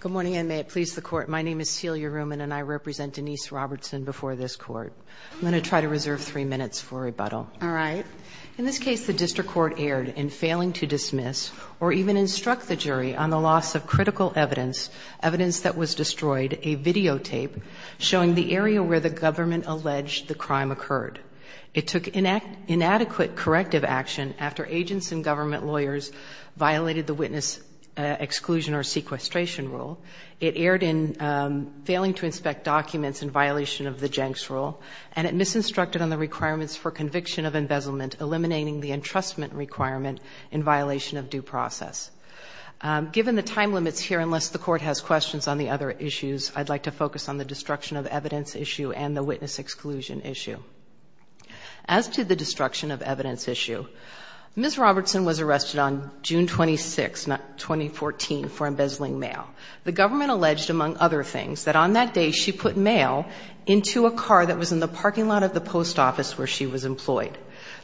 Good morning, and may it please the Court, my name is Celia Reumann, and I represent Denise Robertson before this Court. I'm going to try to reserve three minutes for rebuttal. All right. In this case, the district court erred in failing to dismiss or even instruct the jury on the loss of critical evidence, evidence that was destroyed, a videotape showing the area where the government alleged the crime occurred. It took inadequate corrective action after agents and government lawyers violated the witness exclusion or sequestration rule. It erred in failing to inspect documents in violation of the Jenks Rule, and it misinstructed on the requirements for conviction of embezzlement, eliminating the entrustment requirement in violation of due process. Given the time limits here, unless the Court has questions on the other issues, I'd like to focus on the destruction of evidence issue and the witness exclusion issue. As to the destruction of evidence issue, Ms. Robertson was arrested on June 26, 2014, for embezzling mail. The government alleged, among other things, that on that day, she put mail into a car that was in the parking lot of the post office where she was employed.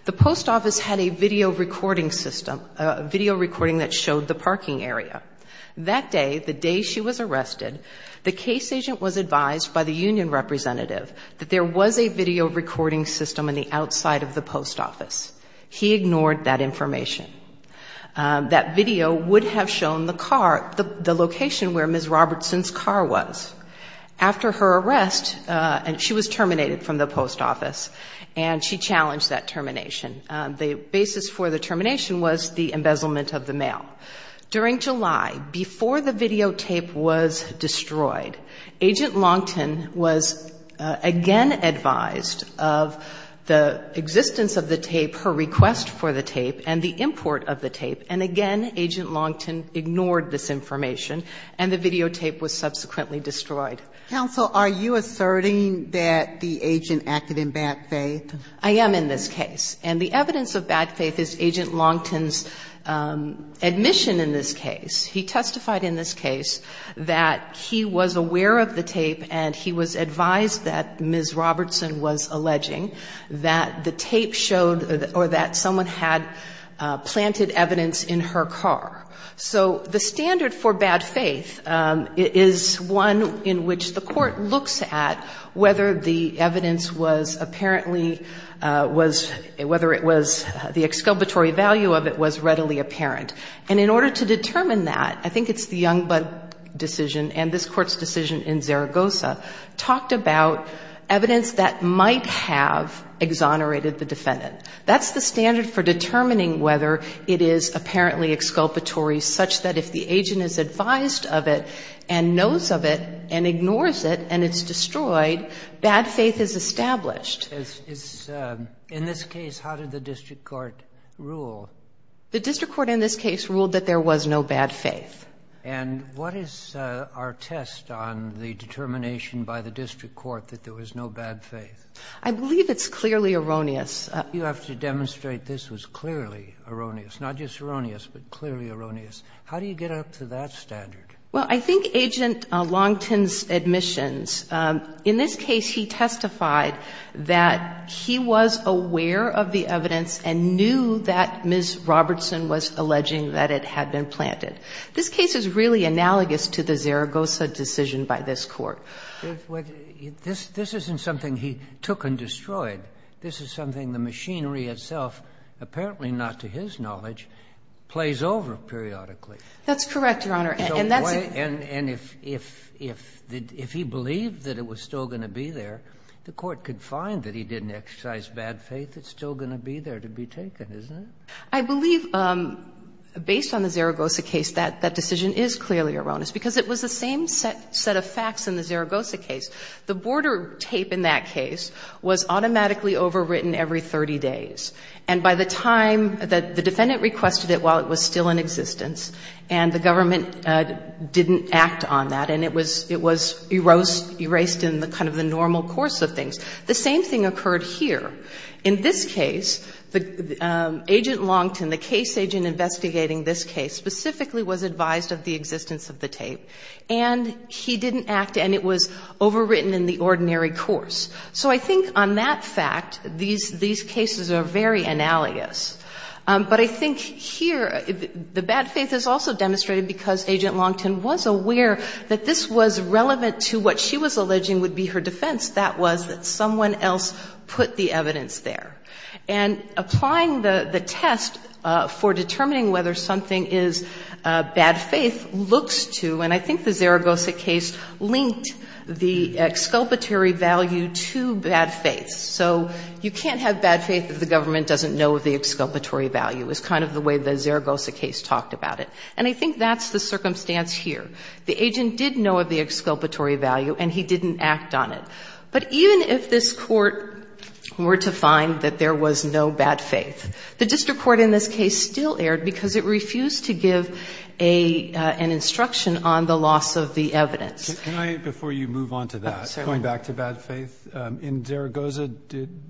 The post office had a video recording system, a video recording that showed the parking area. That day, the day she was arrested, the case agent was advised by the union representative that there was a video recording system on the outside of the post office. He ignored that information. That video would have shown the car, the location where Ms. Robertson's car was. After her arrest, she was terminated from the post office, and she challenged that termination. The basis for the termination was the embezzlement of the mail. During July, before the videotape was destroyed, Agent Longton was again advised of the existence of the tape, her request for the tape, and the import of the tape, and again, Agent Longton ignored this information, and the videotape was subsequently destroyed. Sotomayor, are you asserting that the agent acted in bad faith? I am in this case. And the evidence of bad faith is Agent Longton's admission in this case. He testified in this case that he was aware of the tape, and he was advised that Ms. Robertson was alleging that the tape showed or that someone had planted evidence in her car. So the standard for bad faith is one in which the Court looks at whether the evidence was apparently was, whether it was, the exculpatory value of it was readily apparent. And in order to determine that, I think it's the Youngblood decision and this Court's decision in Zaragoza talked about evidence that might have exonerated the defendant. That's the standard for determining whether it is apparently exculpatory, such that if the agent is advised of it and knows of it and ignores it and it's destroyed, bad faith is established. In this case, how did the district court rule? The district court in this case ruled that there was no bad faith. And what is our test on the determination by the district court that there was no bad faith? I believe it's clearly erroneous. You have to demonstrate this was clearly erroneous. Not just erroneous, but clearly erroneous. How do you get up to that standard? Well, I think Agent Longton's admissions, in this case he testified that he was aware of the evidence and knew that Ms. Robertson was alleging that it had been planted. This case is really analogous to the Zaragoza decision by this Court. This isn't something he took and destroyed. This is something the machinery itself, apparently not to his knowledge, plays over periodically. That's correct, Your Honor. And that's the point. And if he believed that it was still going to be there, the Court could find that he didn't exercise bad faith. It's still going to be there to be taken, isn't it? I believe, based on the Zaragoza case, that that decision is clearly erroneous, because it was the same set of facts in the Zaragoza case. The border tape in that case was automatically overwritten every 30 days. And the government didn't act on that. And it was erased in kind of the normal course of things. The same thing occurred here. In this case, Agent Longton, the case agent investigating this case, specifically was advised of the existence of the tape. And he didn't act, and it was overwritten in the ordinary course. So I think on that fact, these cases are very analogous. But I think here, the bad faith is also demonstrated because Agent Longton was aware that this was relevant to what she was alleging would be her defense. That was that someone else put the evidence there. And applying the test for determining whether something is bad faith looks to, and I think the Zaragoza case linked the exculpatory value to bad faith. So you can't have bad faith if the government doesn't know of the exculpatory value, is kind of the way the Zaragoza case talked about it. And I think that's the circumstance here. The agent did know of the exculpatory value, and he didn't act on it. But even if this Court were to find that there was no bad faith, the district court in this case still erred because it refused to give an instruction on the loss of the evidence. Roberts, can I, before you move on to that, going back to bad faith, in Zaragoza,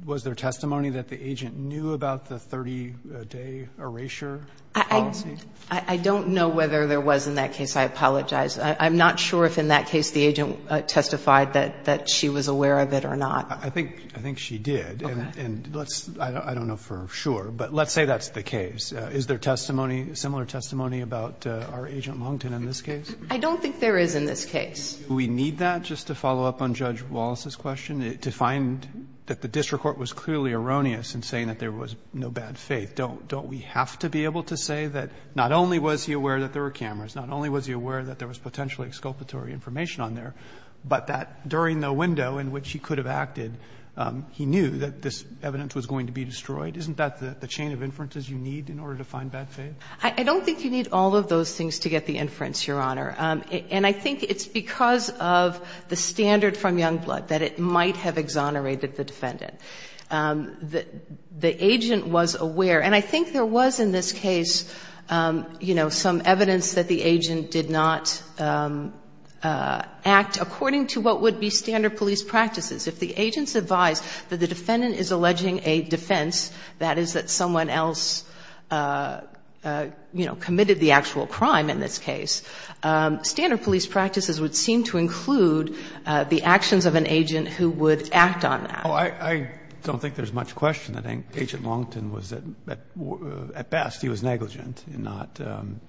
was there testimony that the agent knew about the 30-day erasure policy? I don't know whether there was in that case. I apologize. I'm not sure if in that case the agent testified that she was aware of it or not. I think she did. Okay. And let's, I don't know for sure, but let's say that's the case. Is there testimony, similar testimony about our Agent Longton in this case? I don't think there is in this case. Do we need that? Just to follow up on Judge Wallace's question, to find that the district court was clearly erroneous in saying that there was no bad faith. Don't we have to be able to say that not only was he aware that there were cameras, not only was he aware that there was potentially exculpatory information on there, but that during the window in which he could have acted, he knew that this evidence was going to be destroyed? Isn't that the chain of inferences you need in order to find bad faith? I don't think you need all of those things to get the inference, Your Honor. And I think it's because of the standard from Youngblood that it might have exonerated the defendant. The agent was aware. And I think there was in this case, you know, some evidence that the agent did not act according to what would be standard police practices. If the agent's advised that the defendant is alleging a defense, that is that someone else, you know, committed the actual crime in this case, standard police practices would seem to include the actions of an agent who would act on that. Oh, I don't think there's much question that Agent Longton was at best, he was negligent in not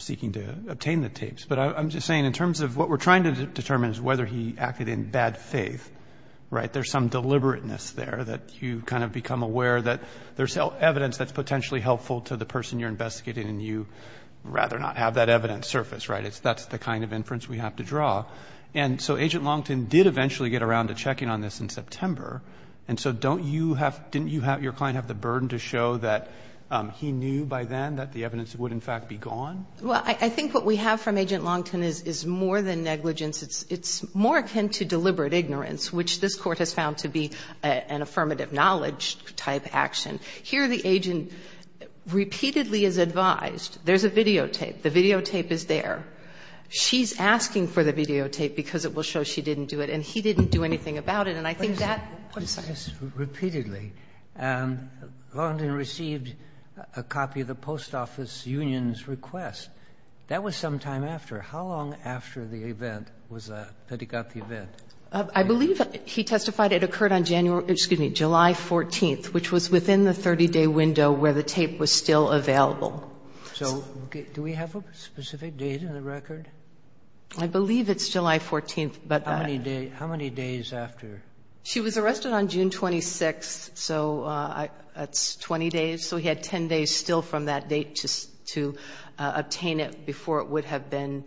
seeking to obtain the tapes. But I'm just saying in terms of what we're trying to determine is whether he acted in bad faith, right? There's some deliberateness there that you kind of become aware that there's evidence that's potentially helpful to the person you're investigating and you'd rather not have that evidence surface, right? That's the kind of inference we have to draw. And so Agent Longton did eventually get around to checking on this in September. And so don't you have, didn't you have, your client have the burden to show that he knew by then that the evidence would in fact be gone? Well, I think what we have from Agent Longton is more than negligence. It's more akin to deliberate ignorance, which this Court has found to be an affirmative knowledge type action. Here the agent repeatedly is advised. There's a videotape. The videotape is there. She's asking for the videotape because it will show she didn't do it, and he didn't do anything about it. And I think that's what's happening. Repeatedly, Longton received a copy of the post office union's request. That was sometime after. How long after the event was that, that he got the event? I believe he testified it occurred on January or, excuse me, July 14th, which was within the 30-day window where the tape was still available. So do we have a specific date in the record? I believe it's July 14th. How many days after? She was arrested on June 26th, so that's 20 days. So he had 10 days still from that date to obtain it before it would have been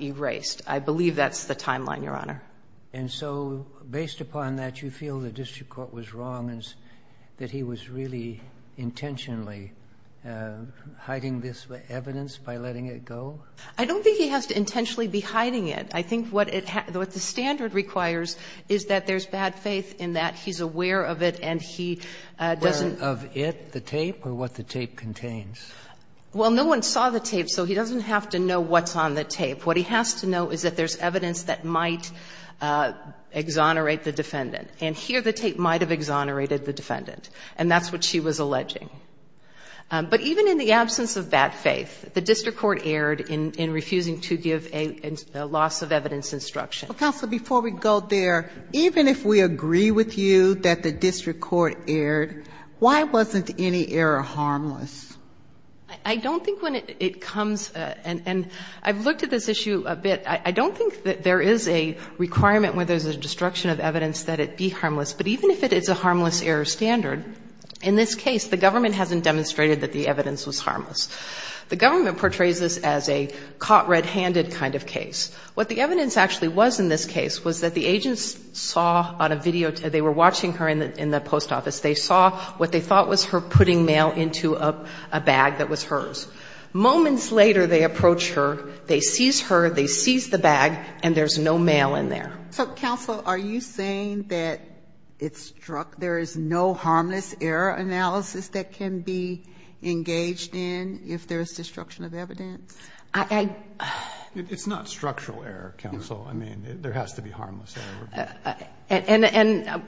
erased. I believe that's the timeline, Your Honor. And so based upon that, you feel the district court was wrong and that he was really intentionally hiding this evidence by letting it go? I don't think he has to intentionally be hiding it. I think what the standard requires is that there's bad faith in that he's aware of it and he doesn't. Aware of it, the tape, or what the tape contains? Well, no one saw the tape, so he doesn't have to know what's on the tape. What he has to know is that there's evidence that might exonerate the defendant. And here the tape might have exonerated the defendant, and that's what she was alleging. But even in the absence of bad faith, the district court erred in refusing to give a loss of evidence instruction. Counsel, before we go there, even if we agree with you that the district court erred, why wasn't any error harmless? I don't think when it comes, and I've looked at this issue a bit. I don't think that there is a requirement where there's a destruction of evidence that it be harmless. But even if it is a harmless error standard, in this case, the government hasn't demonstrated that the evidence was harmless. The government portrays this as a caught red-handed kind of case. What the evidence actually was in this case was that the agents saw on a video, they were watching her in the post office. They saw what they thought was her putting mail into a bag that was hers. Moments later, they approach her, they seize her, they seize the bag, and there's no mail in there. So, counsel, are you saying that it struck, there is no harmless error analysis that can be engaged in if there's destruction of evidence? I, I. It's not structural error, counsel. I mean, there has to be harmless error. And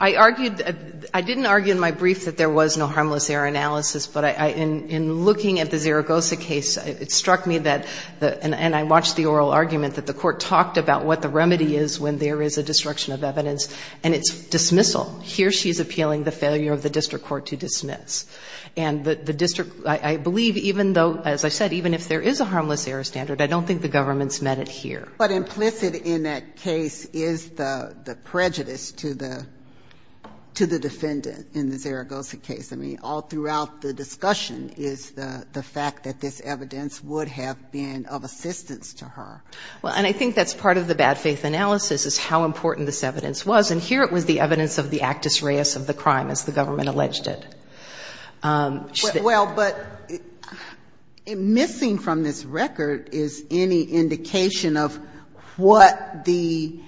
I argued, I didn't argue in my brief that there was no harmless error analysis, but in looking at the Zaragoza case, it struck me that, and I watched the oral argument, that the court talked about what the remedy is when there is a destruction of evidence, and it's dismissal. Here she's appealing the failure of the district court to dismiss. And the district, I believe, even though, as I said, even if there is a harmless error standard, I don't think the government's met it here. But implicit in that case is the, the prejudice to the, to the defendant in the Zaragoza case. I mean, all throughout the discussion is the, the fact that this evidence would have been of assistance to her. Well, and I think that's part of the bad faith analysis, is how important this evidence was. And here it was the evidence of the actus reus of the crime, as the government alleged it. Well, but missing from this record is any indication of what the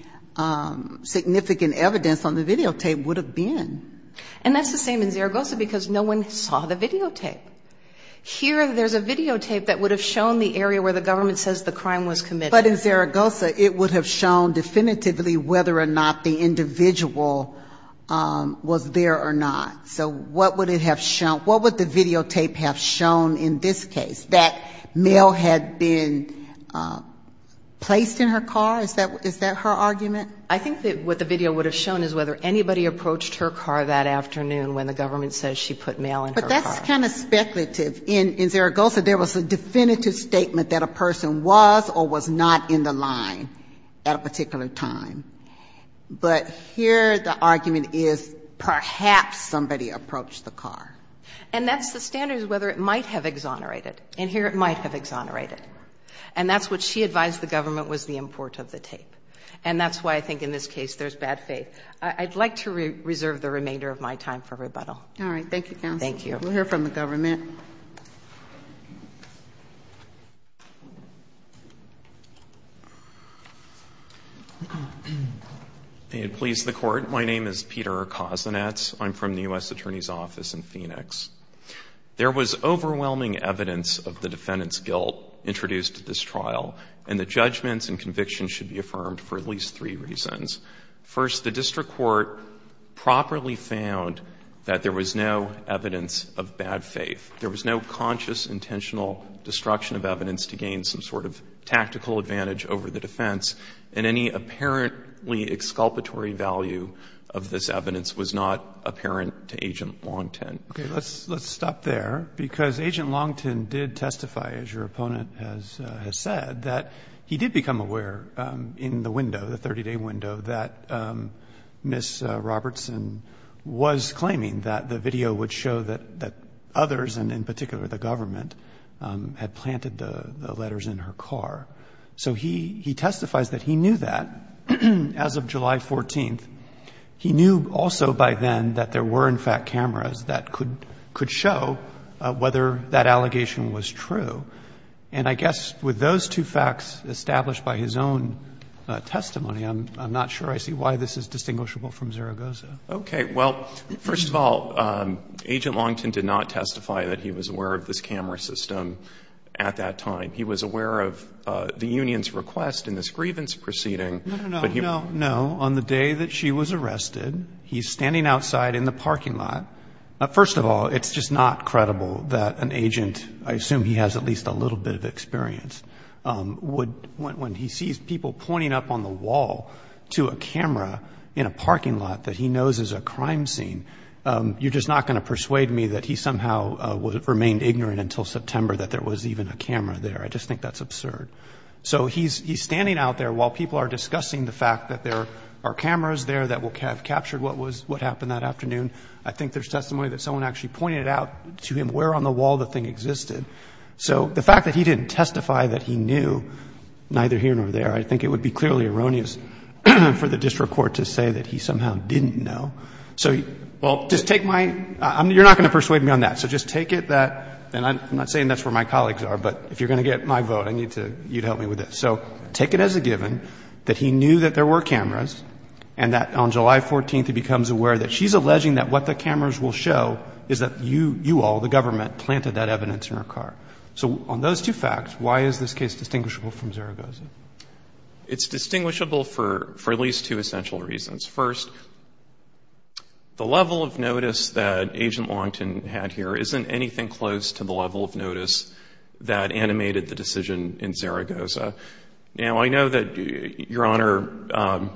significant evidence on the videotape would have been. And that's the same in Zaragoza, because no one saw the videotape. Here there's a videotape that would have shown the area where the government says the crime was committed. But in Zaragoza, it would have shown definitively whether or not the individual was there or not. So what would it have shown, what would the videotape have shown in this case, that mail had been placed in her car? Is that, is that her argument? I think that what the video would have shown is whether anybody approached her car that afternoon when the government says she put mail in her car. But that's kind of speculative. In Zaragoza, there was a definitive statement that a person was or was not in the line at a particular time. But here the argument is perhaps somebody approached the car. And that's the standard is whether it might have exonerated. And here it might have exonerated. And that's what she advised the government was the import of the tape. And that's why I think in this case there's bad faith. I'd like to reserve the remainder of my time for rebuttal. All right. Thank you, counsel. Thank you. We'll hear from the government. May it please the Court. My name is Peter Kozinets. I'm from the U.S. Attorney's Office in Phoenix. There was overwhelming evidence of the defendant's guilt introduced at this trial. And the judgments and convictions should be affirmed for at least three reasons. First, the district court properly found that there was no evidence of bad faith. There was no conscious, intentional destruction of evidence to gain some sort of tactical advantage over the defense. And any apparently exculpatory value of this evidence was not apparent to Agent Longton. Okay. Let's stop there, because Agent Longton did testify, as your opponent has said, that he did become aware in the window, the 30-day window, that Ms. Robertson was claiming that the video would show that others, and in particular the government, had planted the letters in her car. So he testifies that he knew that as of July 14th. He knew also by then that there were, in fact, cameras that could show whether that allegation was true. And I guess with those two facts established by his own testimony, I'm not sure I see why this is distinguishable from Zaragoza. Okay. Well, first of all, Agent Longton did not testify that he was aware of this camera system at that time. He was aware of the union's request in this grievance proceeding. No, no, no, no. On the day that she was arrested, he's standing outside in the parking lot. First of all, it's just not credible that an agent, I assume he has at least a little bit of experience, would, when he sees people pointing up on the wall to a camera in a parking lot that he knows is a crime scene, you're just not going to persuade me that he somehow remained ignorant until September that there was even a camera there. I just think that's absurd. So he's standing out there while people are discussing the fact that there are cameras there that have captured what happened that afternoon. I think there's testimony that someone actually pointed out to him where on the wall the thing existed. So the fact that he didn't testify that he knew neither here nor there, I think it would be clearly erroneous for the district court to say that he somehow didn't know. So, well, just take my – you're not going to persuade me on that. So just take it that – and I'm not saying that's where my colleagues are, but if you're going to get my vote, I need you to help me with this. So take it as a given that he knew that there were cameras and that on July 14th he becomes aware that she's alleging that what the cameras will show is that you all, the government, planted that evidence in her car. So on those two facts, why is this case distinguishable from Zaragoza? It's distinguishable for at least two essential reasons. First, the level of notice that Agent Longton had here isn't anything close to the level of notice that animated the decision in Zaragoza. Now, I know that Your Honor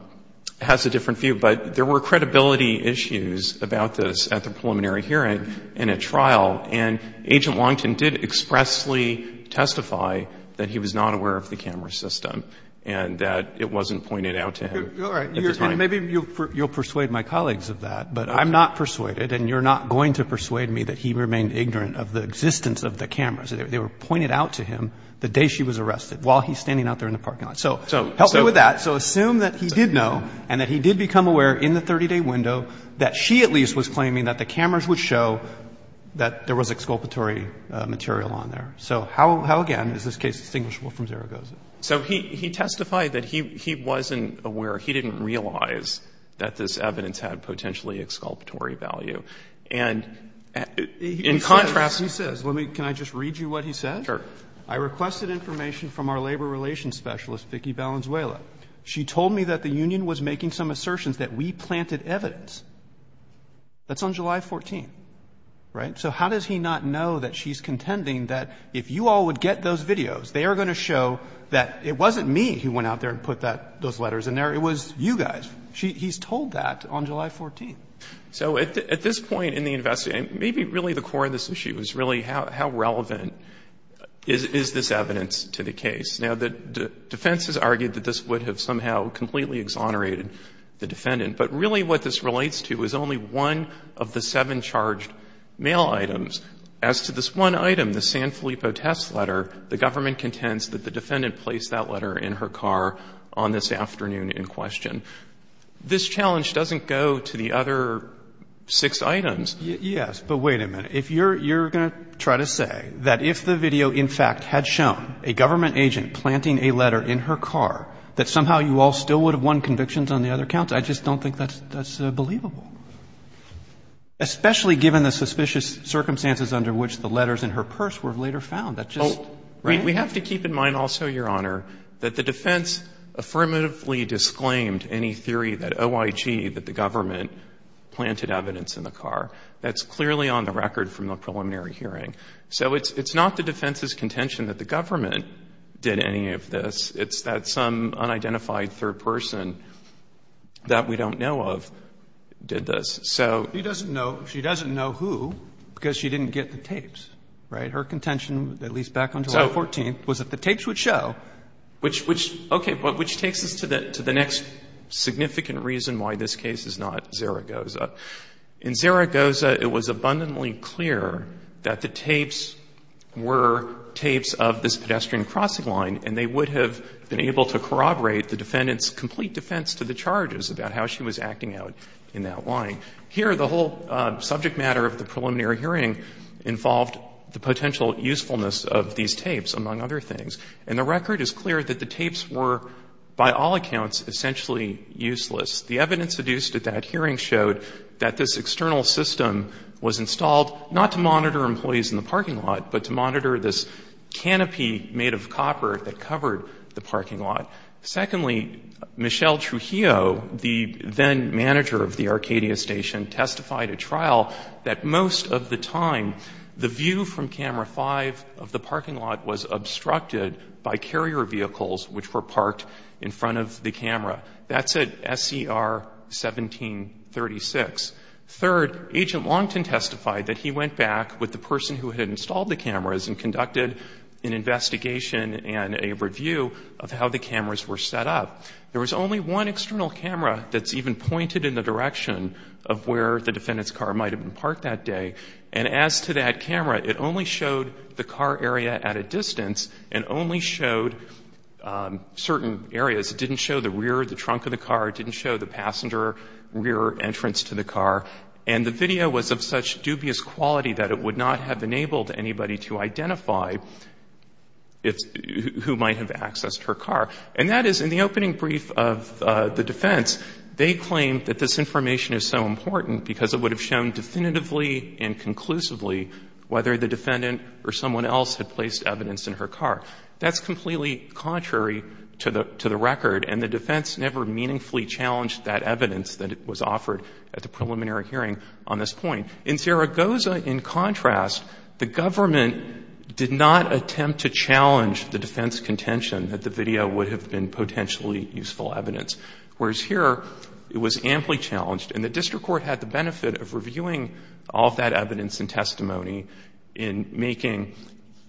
has a different view, but there were credibility issues about this at the preliminary hearing in a trial. And Agent Longton did expressly testify that he was not aware of the camera system and that it wasn't pointed out to him at the time. And maybe you'll persuade my colleagues of that, but I'm not persuaded and you're not going to persuade me that he remained ignorant of the existence of the cameras. They were pointed out to him the day she was arrested while he's standing out there in the parking lot. So help me with that. So assume that he did know and that he did become aware in the 30-day window that she at least was claiming that the cameras would show that there was exculpatory material on there. So how, again, is this case distinguishable from Zaragoza? So he testified that he wasn't aware, he didn't realize that this evidence had potentially exculpatory value. And in contrast, he says, let me, can I just read you what he said? Sure. I requested information from our labor relations specialist, Vicki Valenzuela. She told me that the union was making some assertions that we planted evidence. That's on July 14th, right? So how does he not know that she's contending that if you all would get those videos, they are going to show that it wasn't me who went out there and put those letters in there, it was you guys. He's told that on July 14th. So at this point in the investigation, maybe really the core of this issue is really how relevant is this evidence to the case? Now, the defense has argued that this would have somehow completely exonerated the defendant. But really what this relates to is only one of the seven charged mail items. As to this one item, the San Filippo test letter, the government contends that the defendant placed that letter in her car on this afternoon in question. This challenge doesn't go to the other six items. Roberts. Yes, but wait a minute. If you're going to try to say that if the video in fact had shown a government agent planting a letter in her car, that somehow you all still would have won convictions on the other counts, I just don't think that's believable. Especially given the suspicious circumstances under which the letters in her purse were later found. That just, right? We have to keep in mind also, Your Honor, that the defense affirmatively disclaimed any theory that OIG, that the government, planted evidence in the car. That's clearly on the record from the preliminary hearing. So it's not the defense's contention that the government did any of this. It's that some unidentified third person that we don't know of did this. So he doesn't know. She doesn't know who because she didn't get the tapes. Right? Her contention, at least back on July 14th, was that the tapes would show. Which takes us to the next significant reason why this case is not Zaragoza. In Zaragoza, it was abundantly clear that the tapes were tapes of this pedestrian crossing line, and they would have been able to corroborate the defendant's complete defense to the charges about how she was acting out in that line. Here, the whole subject matter of the preliminary hearing involved the potential usefulness of these tapes, among other things. And the record is clear that the tapes were, by all accounts, essentially useless. The evidence adduced at that hearing showed that this external system was installed not to monitor employees in the parking lot, but to monitor this canopy made of copper that covered the parking lot. Secondly, Michelle Trujillo, the then-manager of the Arcadia station, testified at trial that most of the time, the view from camera 5 of the parking lot was obstructed by carrier vehicles which were parked in front of the camera. That's at SCR 1736. Third, Agent Longton testified that he went back with the person who had installed the cameras and conducted an investigation and a review of how the cameras were set up. There was only one external camera that's even pointed in the direction of where the defendant's car might have been parked that day. And as to that camera, it only showed the car area at a distance and only showed certain areas. It didn't show the rear of the trunk of the car. It didn't show the passenger rear entrance to the car. And the video was of such dubious quality that it would not have enabled anybody to identify who might have accessed her car. And that is, in the opening brief of the defense, they claimed that this information is so important because it would have shown definitively and conclusively whether the defendant or someone else had placed evidence in her car. That's completely contrary to the record. And the defense never meaningfully challenged that evidence that was offered at the preliminary hearing on this point. In Zaragoza, in contrast, the government did not attempt to challenge the defense contention that the video would have been potentially useful evidence, whereas here it was amply challenged. And the district court had the benefit of reviewing all of that evidence and testimony in making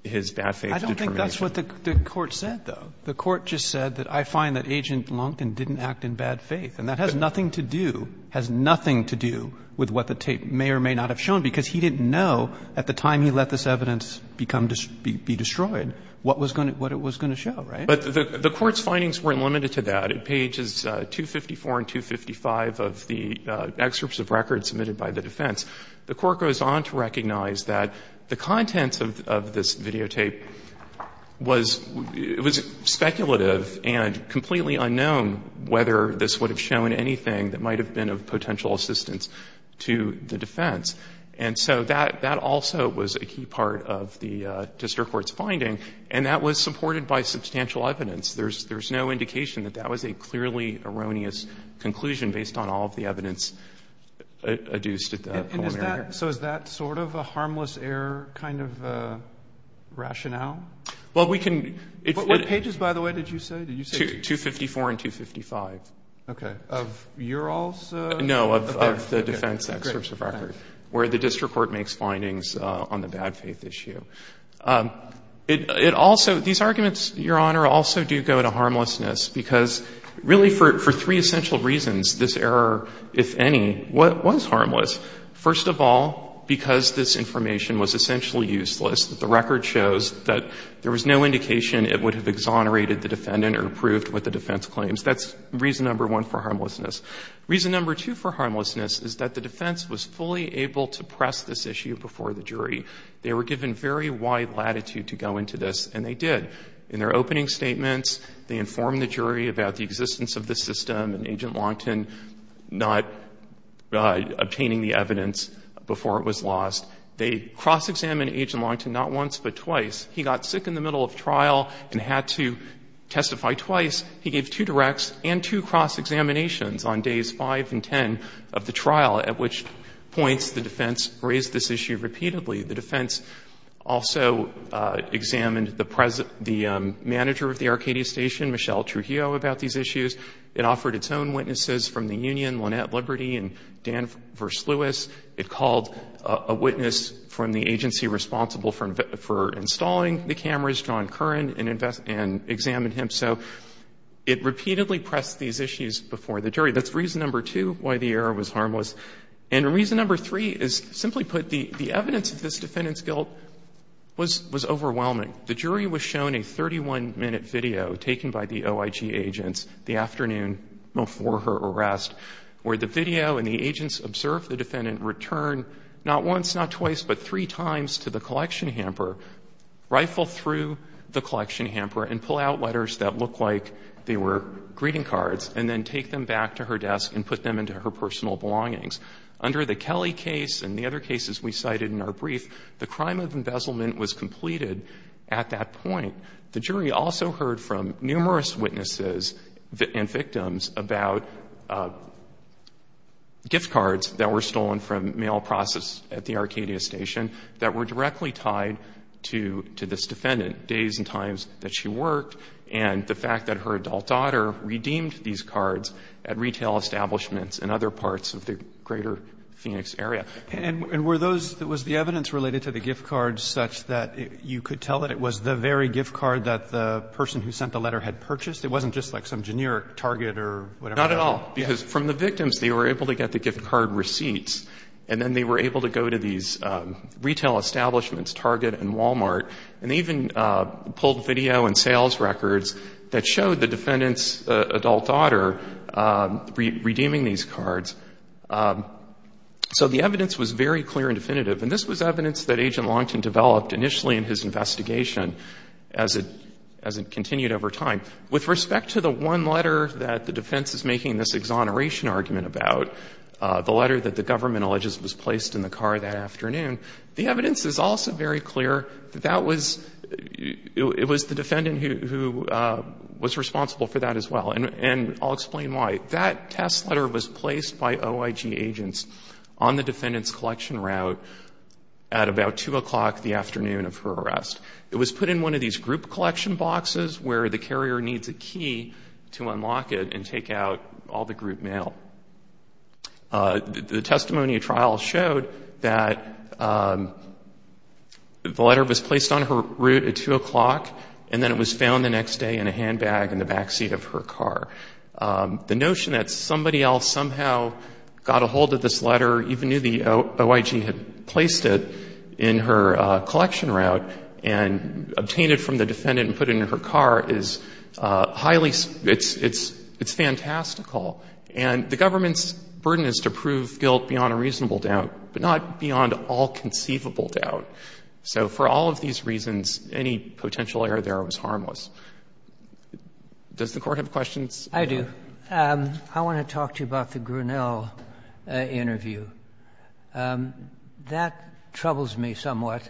his bad faith determination. Roberts. But that's what the court said, though. The court just said that I find that Agent Longton didn't act in bad faith. And that has nothing to do, has nothing to do with what the tape may or may not have shown, because he didn't know at the time he let this evidence become, be destroyed, what was going to, what it was going to show. Right? But the Court's findings weren't limited to that. At pages 254 and 255 of the excerpts of records submitted by the defense, the Court goes on to recognize that the contents of this videotape was speculative and completely unknown whether this would have shown anything that might have been of potential assistance to the defense. And so that also was a key part of the district court's finding, and that was supported by substantial evidence. There's no indication that that was a clearly erroneous conclusion based on all of the evidence adduced at the preliminary hearing. And so is that sort of a harmless error kind of rationale? Well, we can. What pages, by the way, did you say? Did you say? 254 and 255. Okay. Of your all's? No, of the defense excerpts of records, where the district court makes findings on the bad faith issue. It also, these arguments, Your Honor, also do go to harmlessness, because really for three essential reasons, this error, if any, was harmless. First of all, because this information was essentially useless, the record shows that there was no indication it would have exonerated the defendant or approved what the defense claims. That's reason number one for harmlessness. Reason number two for harmlessness is that the defense was fully able to press this issue before the jury. They were given very wide latitude to go into this, and they did. In their opening statements, they informed the jury about the existence of this evidence before it was lost. They cross-examined Agent Longton not once but twice. He got sick in the middle of trial and had to testify twice. He gave two directs and two cross-examinations on days five and ten of the trial, at which point the defense raised this issue repeatedly. The defense also examined the manager of the Arcadia Station, Michelle Trujillo, about these issues. It offered its own witnesses from the union, Lynette Liberty and Dan Versluis. It called a witness from the agency responsible for installing the cameras, John Curran, and examined him. So it repeatedly pressed these issues before the jury. That's reason number two why the error was harmless. And reason number three is, simply put, the evidence of this defendant's guilt was overwhelming. The jury was shown a 31-minute video taken by the OIG agents the afternoon before her arrest, where the video and the agents observed the defendant return not once, not twice, but three times to the collection hamper, rifle through the collection hamper and pull out letters that looked like they were greeting cards, and then take them back to her desk and put them into her personal belongings. Under the Kelly case and the other cases we cited in our brief, the crime of embezzlement was completed at that point. The jury also heard from numerous witnesses and victims about gift cards that were stolen from mail process at the Arcadia Station that were directly tied to this defendant, days and times that she worked, and the fact that her adult daughter redeemed these cards at retail establishments in other parts of the greater Phoenix area. And were those — was the evidence related to the gift card such that you could tell that it was the very gift card that the person who sent the letter had purchased? It wasn't just like some generic Target or whatever. Not at all, because from the victims, they were able to get the gift card receipts, and then they were able to go to these retail establishments, Target and Walmart, and even pulled video and sales records that showed the defendant's adult daughter redeeming these cards. So the evidence was very clear and definitive. And this was evidence that Agent Longton developed initially in his investigation as it continued over time. With respect to the one letter that the defense is making this exoneration argument about, the letter that the government alleges was placed in the car that afternoon, the evidence is also very clear that that was — it was the defendant who was responsible for that as well. And I'll explain why. That test letter was placed by OIG agents on the defendant's collection route at about 2 o'clock the afternoon of her arrest. It was put in one of these group collection boxes where the carrier needs a key to unlock it and take out all the group mail. The testimony of trial showed that the letter was placed on her route at 2 o'clock, and then it was found the next day in a handbag in the backseat of her car. The notion that somebody else somehow got a hold of this letter, even knew the OIG had placed it in her collection route, and obtained it from the defendant and put it in her car is highly — it's fantastical. And the government's burden is to prove guilt beyond a reasonable doubt, but not beyond all conceivable doubt. So for all of these reasons, any potential error there was harmless. Does the Court have questions? I do. I want to talk to you about the Grinnell interview. That troubles me somewhat.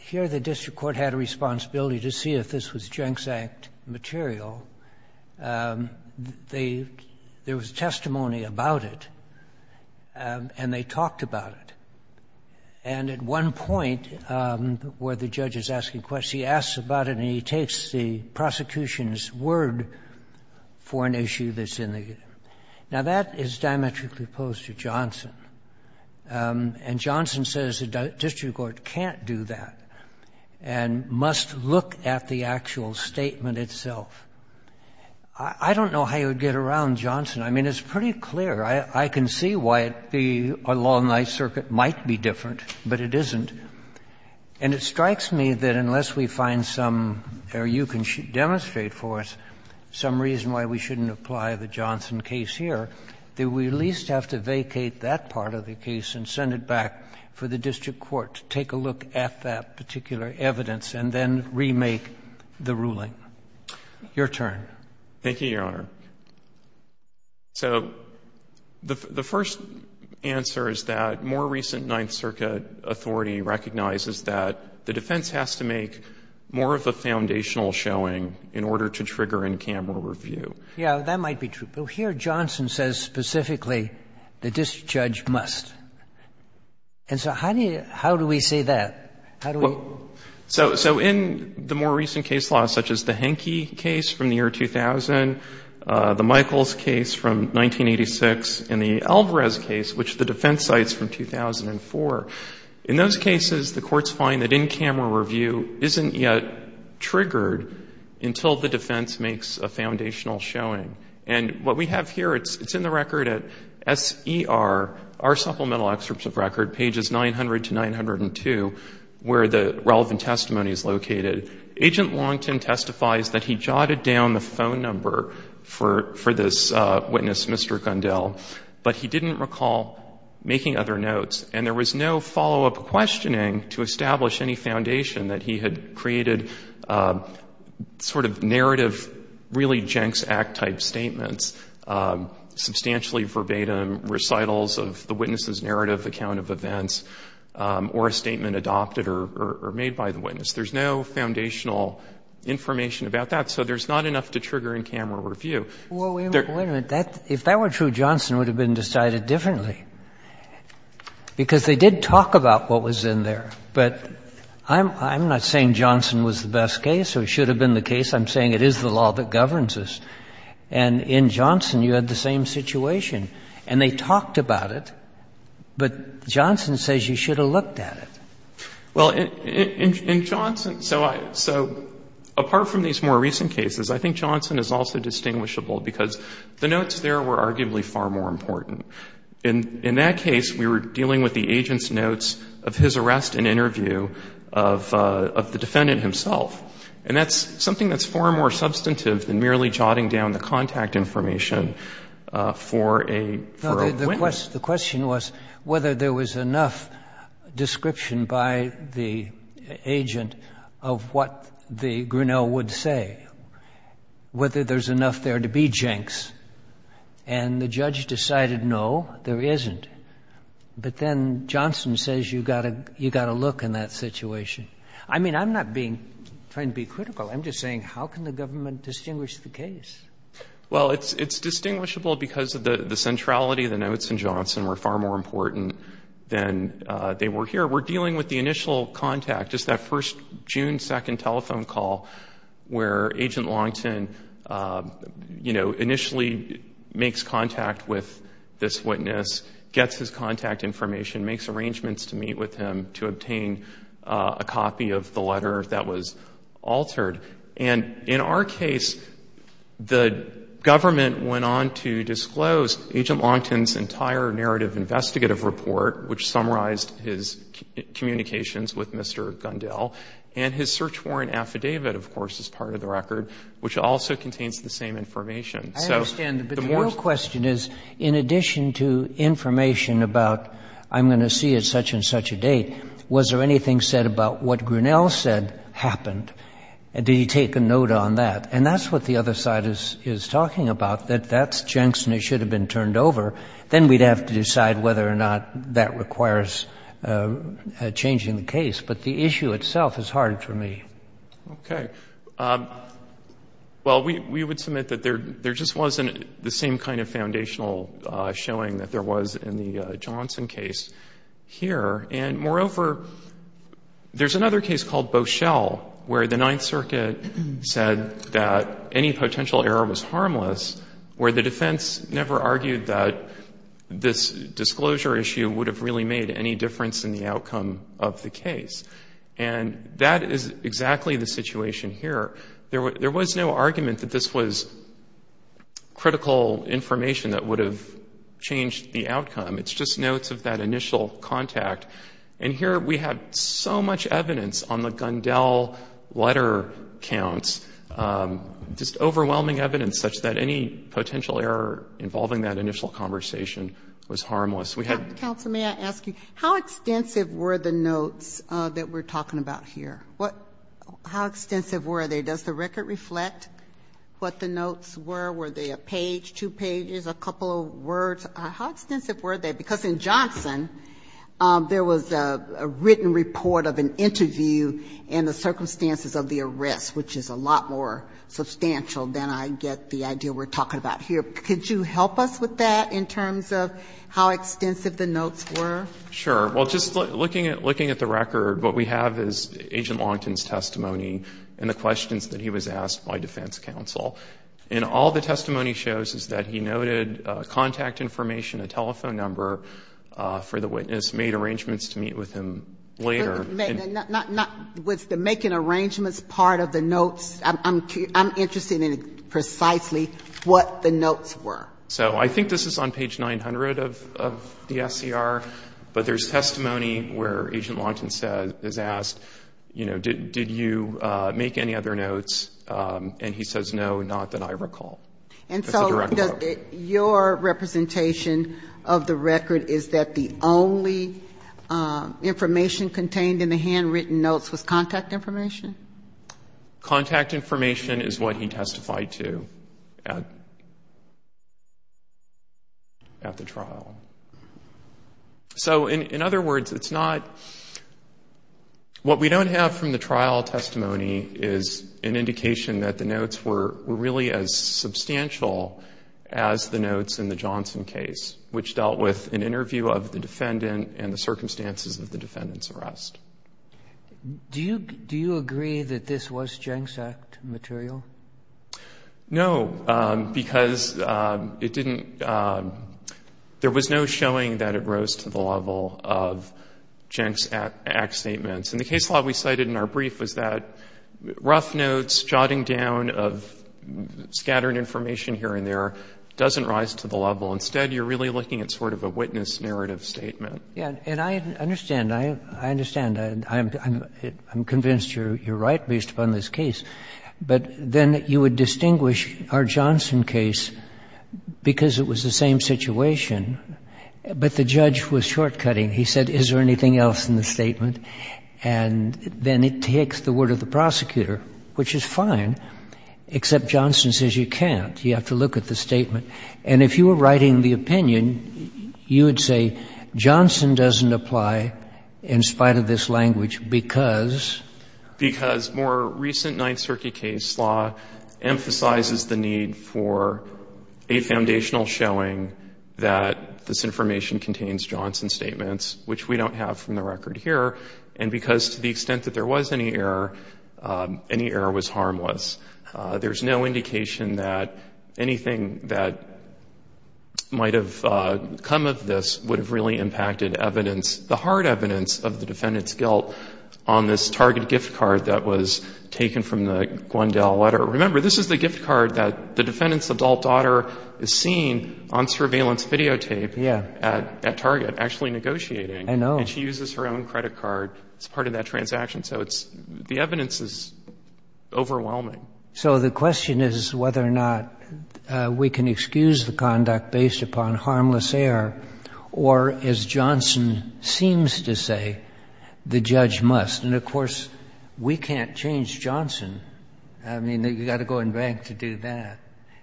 Here the district court had a responsibility to see if this was Jenks Act material. They — there was testimony about it, and they talked about it. And at one point, where the judge is asking questions, he asks about it and he takes the prosecution's word for an issue that's in the — now, that is diametrically opposed to Johnson. And Johnson says the district court can't do that and must look at the actual statement itself. I don't know how you would get around Johnson. I mean, it's pretty clear. I can see why the law in the Ninth Circuit might be different, but it isn't. And it strikes me that unless we find some, or you can demonstrate for us, some reason why we shouldn't apply the Johnson case here, that we at least have to vacate that part of the case and send it back for the district court to take a look at that particular evidence and then remake the ruling. Your turn. Thank you, Your Honor. So the first answer is that more recent Ninth Circuit authority recognizes that the defense has to make more of a foundational showing in order to trigger in-camera review. Yeah, that might be true. But here Johnson says specifically the district judge must. And so how do you — how do we say that? How do we — So in the more recent case law, such as the Henke case from the year 2000, the Michaels case from 1986, and the Alvarez case, which the defense cites from 2004, in those cases the courts find that in-camera review isn't yet triggered until the defense makes a foundational showing. And what we have here, it's in the record at SER, our supplemental excerpts of record, pages 900 to 902, where the relevant testimony is located. Agent Longton testifies that he jotted down the phone number for this witness, Mr. Gundell, but he didn't recall making other notes. And there was no follow-up questioning to establish any foundation that he had created sort of narrative, really Jenks Act-type statements, substantially verbatim recitals of the witness's narrative, the count of events, or a statement adopted or made by the witness. There's no foundational information about that. So there's not enough to trigger in-camera review. There — Well, wait a minute. If that were true, Johnson would have been decided differently, because they did talk about what was in there. But I'm not saying Johnson was the best case or should have been the case. I'm saying it is the law that governs us. And in Johnson, you had the same situation. And they talked about it, but Johnson says you should have looked at it. Well, in Johnson — so apart from these more recent cases, I think Johnson is also distinguishable, because the notes there were arguably far more important. In that case, we were dealing with the agent's notes of his arrest and interview of the defendant himself. And that's something that's far more substantive than merely jotting down the contact information for a witness. The question was whether there was enough description by the agent of what the Grinnell would say, whether there's enough there to be jinx. And the judge decided no, there isn't. But then Johnson says you've got to look in that situation. I mean, I'm not being — trying to be critical. I'm just saying how can the government distinguish the case? Well, it's distinguishable because of the centrality. The notes in Johnson were far more important than they were here. We're dealing with the initial contact, just that first June 2nd telephone call where Agent Longton, you know, initially makes contact with this witness, gets his contact information, makes arrangements to meet with him to obtain a copy of the letter that was altered. And in our case, the government went on to disclose Agent Longton's entire narrative investigative report, which summarized his communications with Mr. Gundell. And his search warrant affidavit, of course, is part of the record, which also contains So the more — I understand. But the real question is, in addition to information about I'm going to see at such and such a date, was there anything said about what Grunell said happened? Did he take a note on that? And that's what the other side is talking about, that that's Jenks and it should have been turned over. Then we'd have to decide whether or not that requires changing the case. But the issue itself is hard for me. Okay. And I'm just going to end by showing that there was in the Johnson case here. And moreover, there's another case called Beauchelle, where the Ninth Circuit said that any potential error was harmless, where the defense never argued that this disclosure issue would have really made any difference in the outcome of the case. And that is exactly the situation here. There was no argument that this was critical information that would have changed the outcome. It's just notes of that initial contact. And here we have so much evidence on the Gundell letter counts, just overwhelming evidence such that any potential error involving that initial conversation was harmless. We had — Counsel, may I ask you, how extensive were the notes that we're talking about here? How extensive were they? Does the record reflect what the notes were? Were they a page, two pages, a couple of words? How extensive were they? Because in Johnson, there was a written report of an interview and the circumstances of the arrest, which is a lot more substantial than I get the idea we're talking about here. Could you help us with that in terms of how extensive the notes were? Sure. Well, just looking at the record, what we have is Agent Longton's testimony and the questions that he was asked by defense counsel. And all the testimony shows is that he noted contact information, a telephone number for the witness, made arrangements to meet with him later. Not with the making arrangements part of the notes. I'm interested in precisely what the notes were. So I think this is on page 900 of the SCR. But there's testimony where Agent Longton is asked, you know, did you make any other notes? And he says, no, not that I recall. And so your representation of the record is that the only information contained in the handwritten notes was contact information? Contact information is what he testified to at the trial. So in other words, it's not what we don't have from the trial testimony is an indication that the notes were really as substantial as the notes in the Johnson case, which dealt with an interview of the defendant and the circumstances of the defendant's arrest. Do you agree that this was Jenks Act material? No, because it didn't — there was no showing that it rose to the level of Jenks Act statements. And the case law we cited in our brief was that rough notes, jotting down of scattered information here and there doesn't rise to the level. Instead, you're really looking at sort of a witness narrative statement. And I understand. I understand. I'm convinced you're right based upon this case. But then you would distinguish our Johnson case because it was the same situation, but the judge was short-cutting. He said, is there anything else in the statement? And then it takes the word of the prosecutor, which is fine, except Johnson says you can't. You have to look at the statement. And if you were writing the opinion, you would say Johnson doesn't apply in spite of this language because? Because more recent Ninth Circuit case law emphasizes the need for a foundational showing that this information contains Johnson statements, which we don't have from the record here. And because to the extent that there was any error, any error was harmless. There's no indication that anything that might have come of this would have really impacted evidence, the hard evidence of the defendant's guilt on this Target gift card that was taken from the Gwendale letter. Remember, this is the gift card that the defendant's adult daughter is seen on surveillance videotape at Target actually negotiating. I know. And she uses her own credit card as part of that transaction. So it's the evidence is overwhelming. So the question is whether or not we can excuse the conduct based upon harmless error or, as Johnson seems to say, the judge must. And, of course, we can't change Johnson. I mean, you've got to go and bank to do that.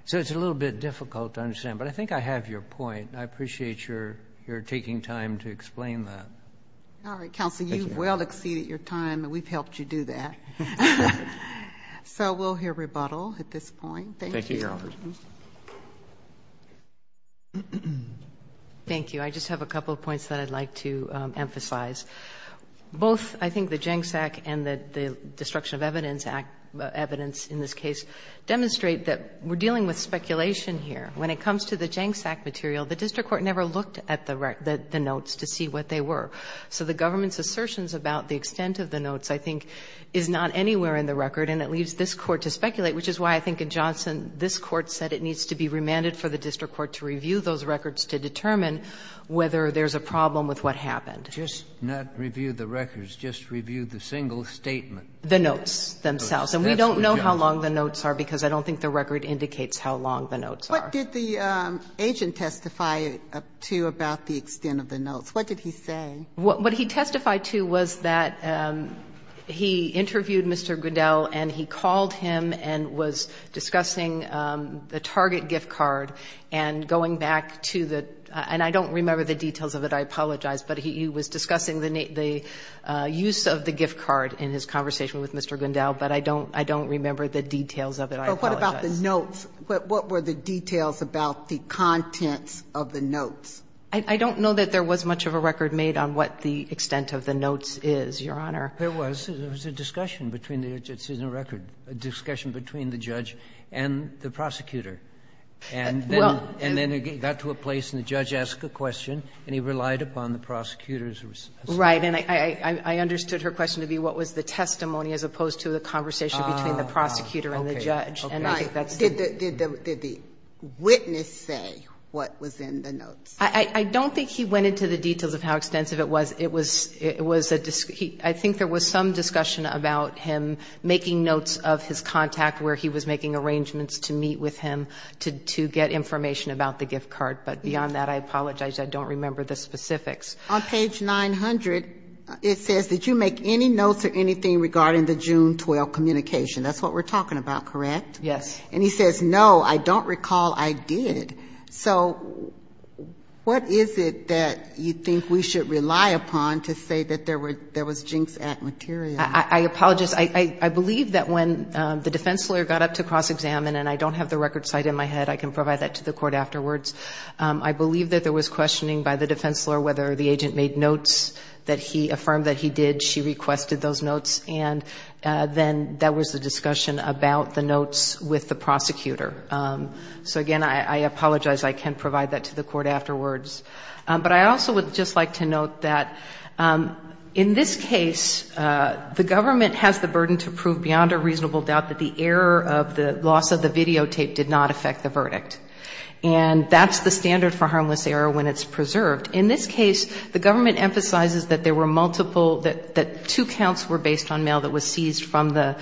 So it's a little bit difficult to understand. But I think I have your point. I appreciate your taking time to explain that. All right, counsel. You've well exceeded your time, and we've helped you do that. So we'll hear rebuttal at this point. Thank you. Thank you, Your Honors. Thank you. I just have a couple of points that I'd like to emphasize. Both, I think, the JANGSAC and the Destruction of Evidence Act evidence in this case demonstrate that we're dealing with speculation here. When it comes to the JANGSAC material, the district court never looked at the notes to see what they were. So the government's assertions about the extent of the notes, I think, is not anywhere in the record, and it leaves this Court to speculate, which is why I think in Johnson this Court said it needs to be remanded for the district court to review those records to determine whether there's a problem with what happened. Just not review the records, just review the single statement. The notes themselves. And we don't know how long the notes are, because I don't think the record indicates how long the notes are. What did the agent testify to about the extent of the notes? What did he say? What he testified to was that he interviewed Mr. Gundel and he called him and was discussing the target gift card and going back to the – and I don't remember the details of it, I apologize, but he was discussing the use of the gift card in his conversation with Mr. Gundel, but I don't remember the details of it, I apologize. But what about the notes? What were the details about the contents of the notes? I don't know that there was much of a record made on what the extent of the notes is, Your Honor. There was. There was a discussion between the – it's in the record. A discussion between the judge and the prosecutor. And then it got to a place and the judge asked a question and he relied upon the prosecutor's response. Right. And I understood her question to be what was the testimony as opposed to the conversation between the prosecutor and the judge. Okay. Did the witness say what was in the notes? I don't think he went into the details of how extensive it was. It was a – I think there was some discussion about him making notes of his contact where he was making arrangements to meet with him to get information about the gift card. But beyond that, I apologize, I don't remember the specifics. On page 900, it says, did you make any notes or anything regarding the June 12 communication? That's what we're talking about, correct? Yes. And he says, no, I don't recall I did. So what is it that you think we should rely upon to say that there was jinks at material? I apologize. I believe that when the defense lawyer got up to cross-examine, and I don't have the record cited in my head. I can provide that to the court afterwards. I believe that there was questioning by the defense lawyer whether the agent made notes that he affirmed that he did. She requested those notes. And then there was a discussion about the notes with the prosecutor. So, again, I apologize. I can provide that to the court afterwards. But I also would just like to note that in this case, the government has the burden to prove beyond a reasonable doubt that the error of the loss of the videotape did not affect the verdict. And that's the standard for harmless error when it's preserved. In this case, the government emphasizes that there were multiple, that two counts were based on mail that was seized from the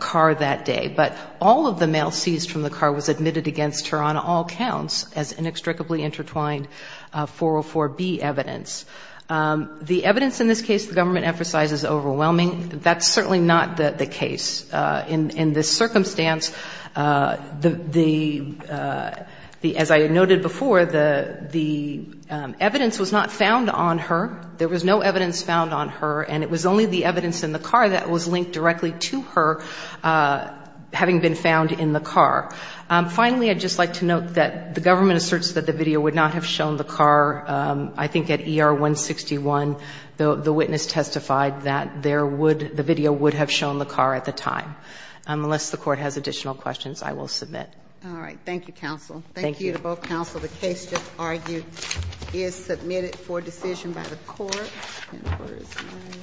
car that day. But all of the mail seized from the car was admitted against her on all counts as inextricably intertwined 404B evidence. The evidence in this case the government emphasizes is overwhelming. That's certainly not the case. In this circumstance, the, as I noted before, the evidence was not found on her. There was no evidence found on her. And it was only the evidence in the car that was linked directly to her having been found in the car. Finally, I'd just like to note that the government asserts that the video would not have shown the car. I think at ER 161, the witness testified that there would, the video would have shown the car at the time. Unless the Court has additional questions, I will submit. All right. Thank you, counsel. Thank you. Thank you to both counsel. The case just argued is submitted for decision by the Court. And the Court is adjourned.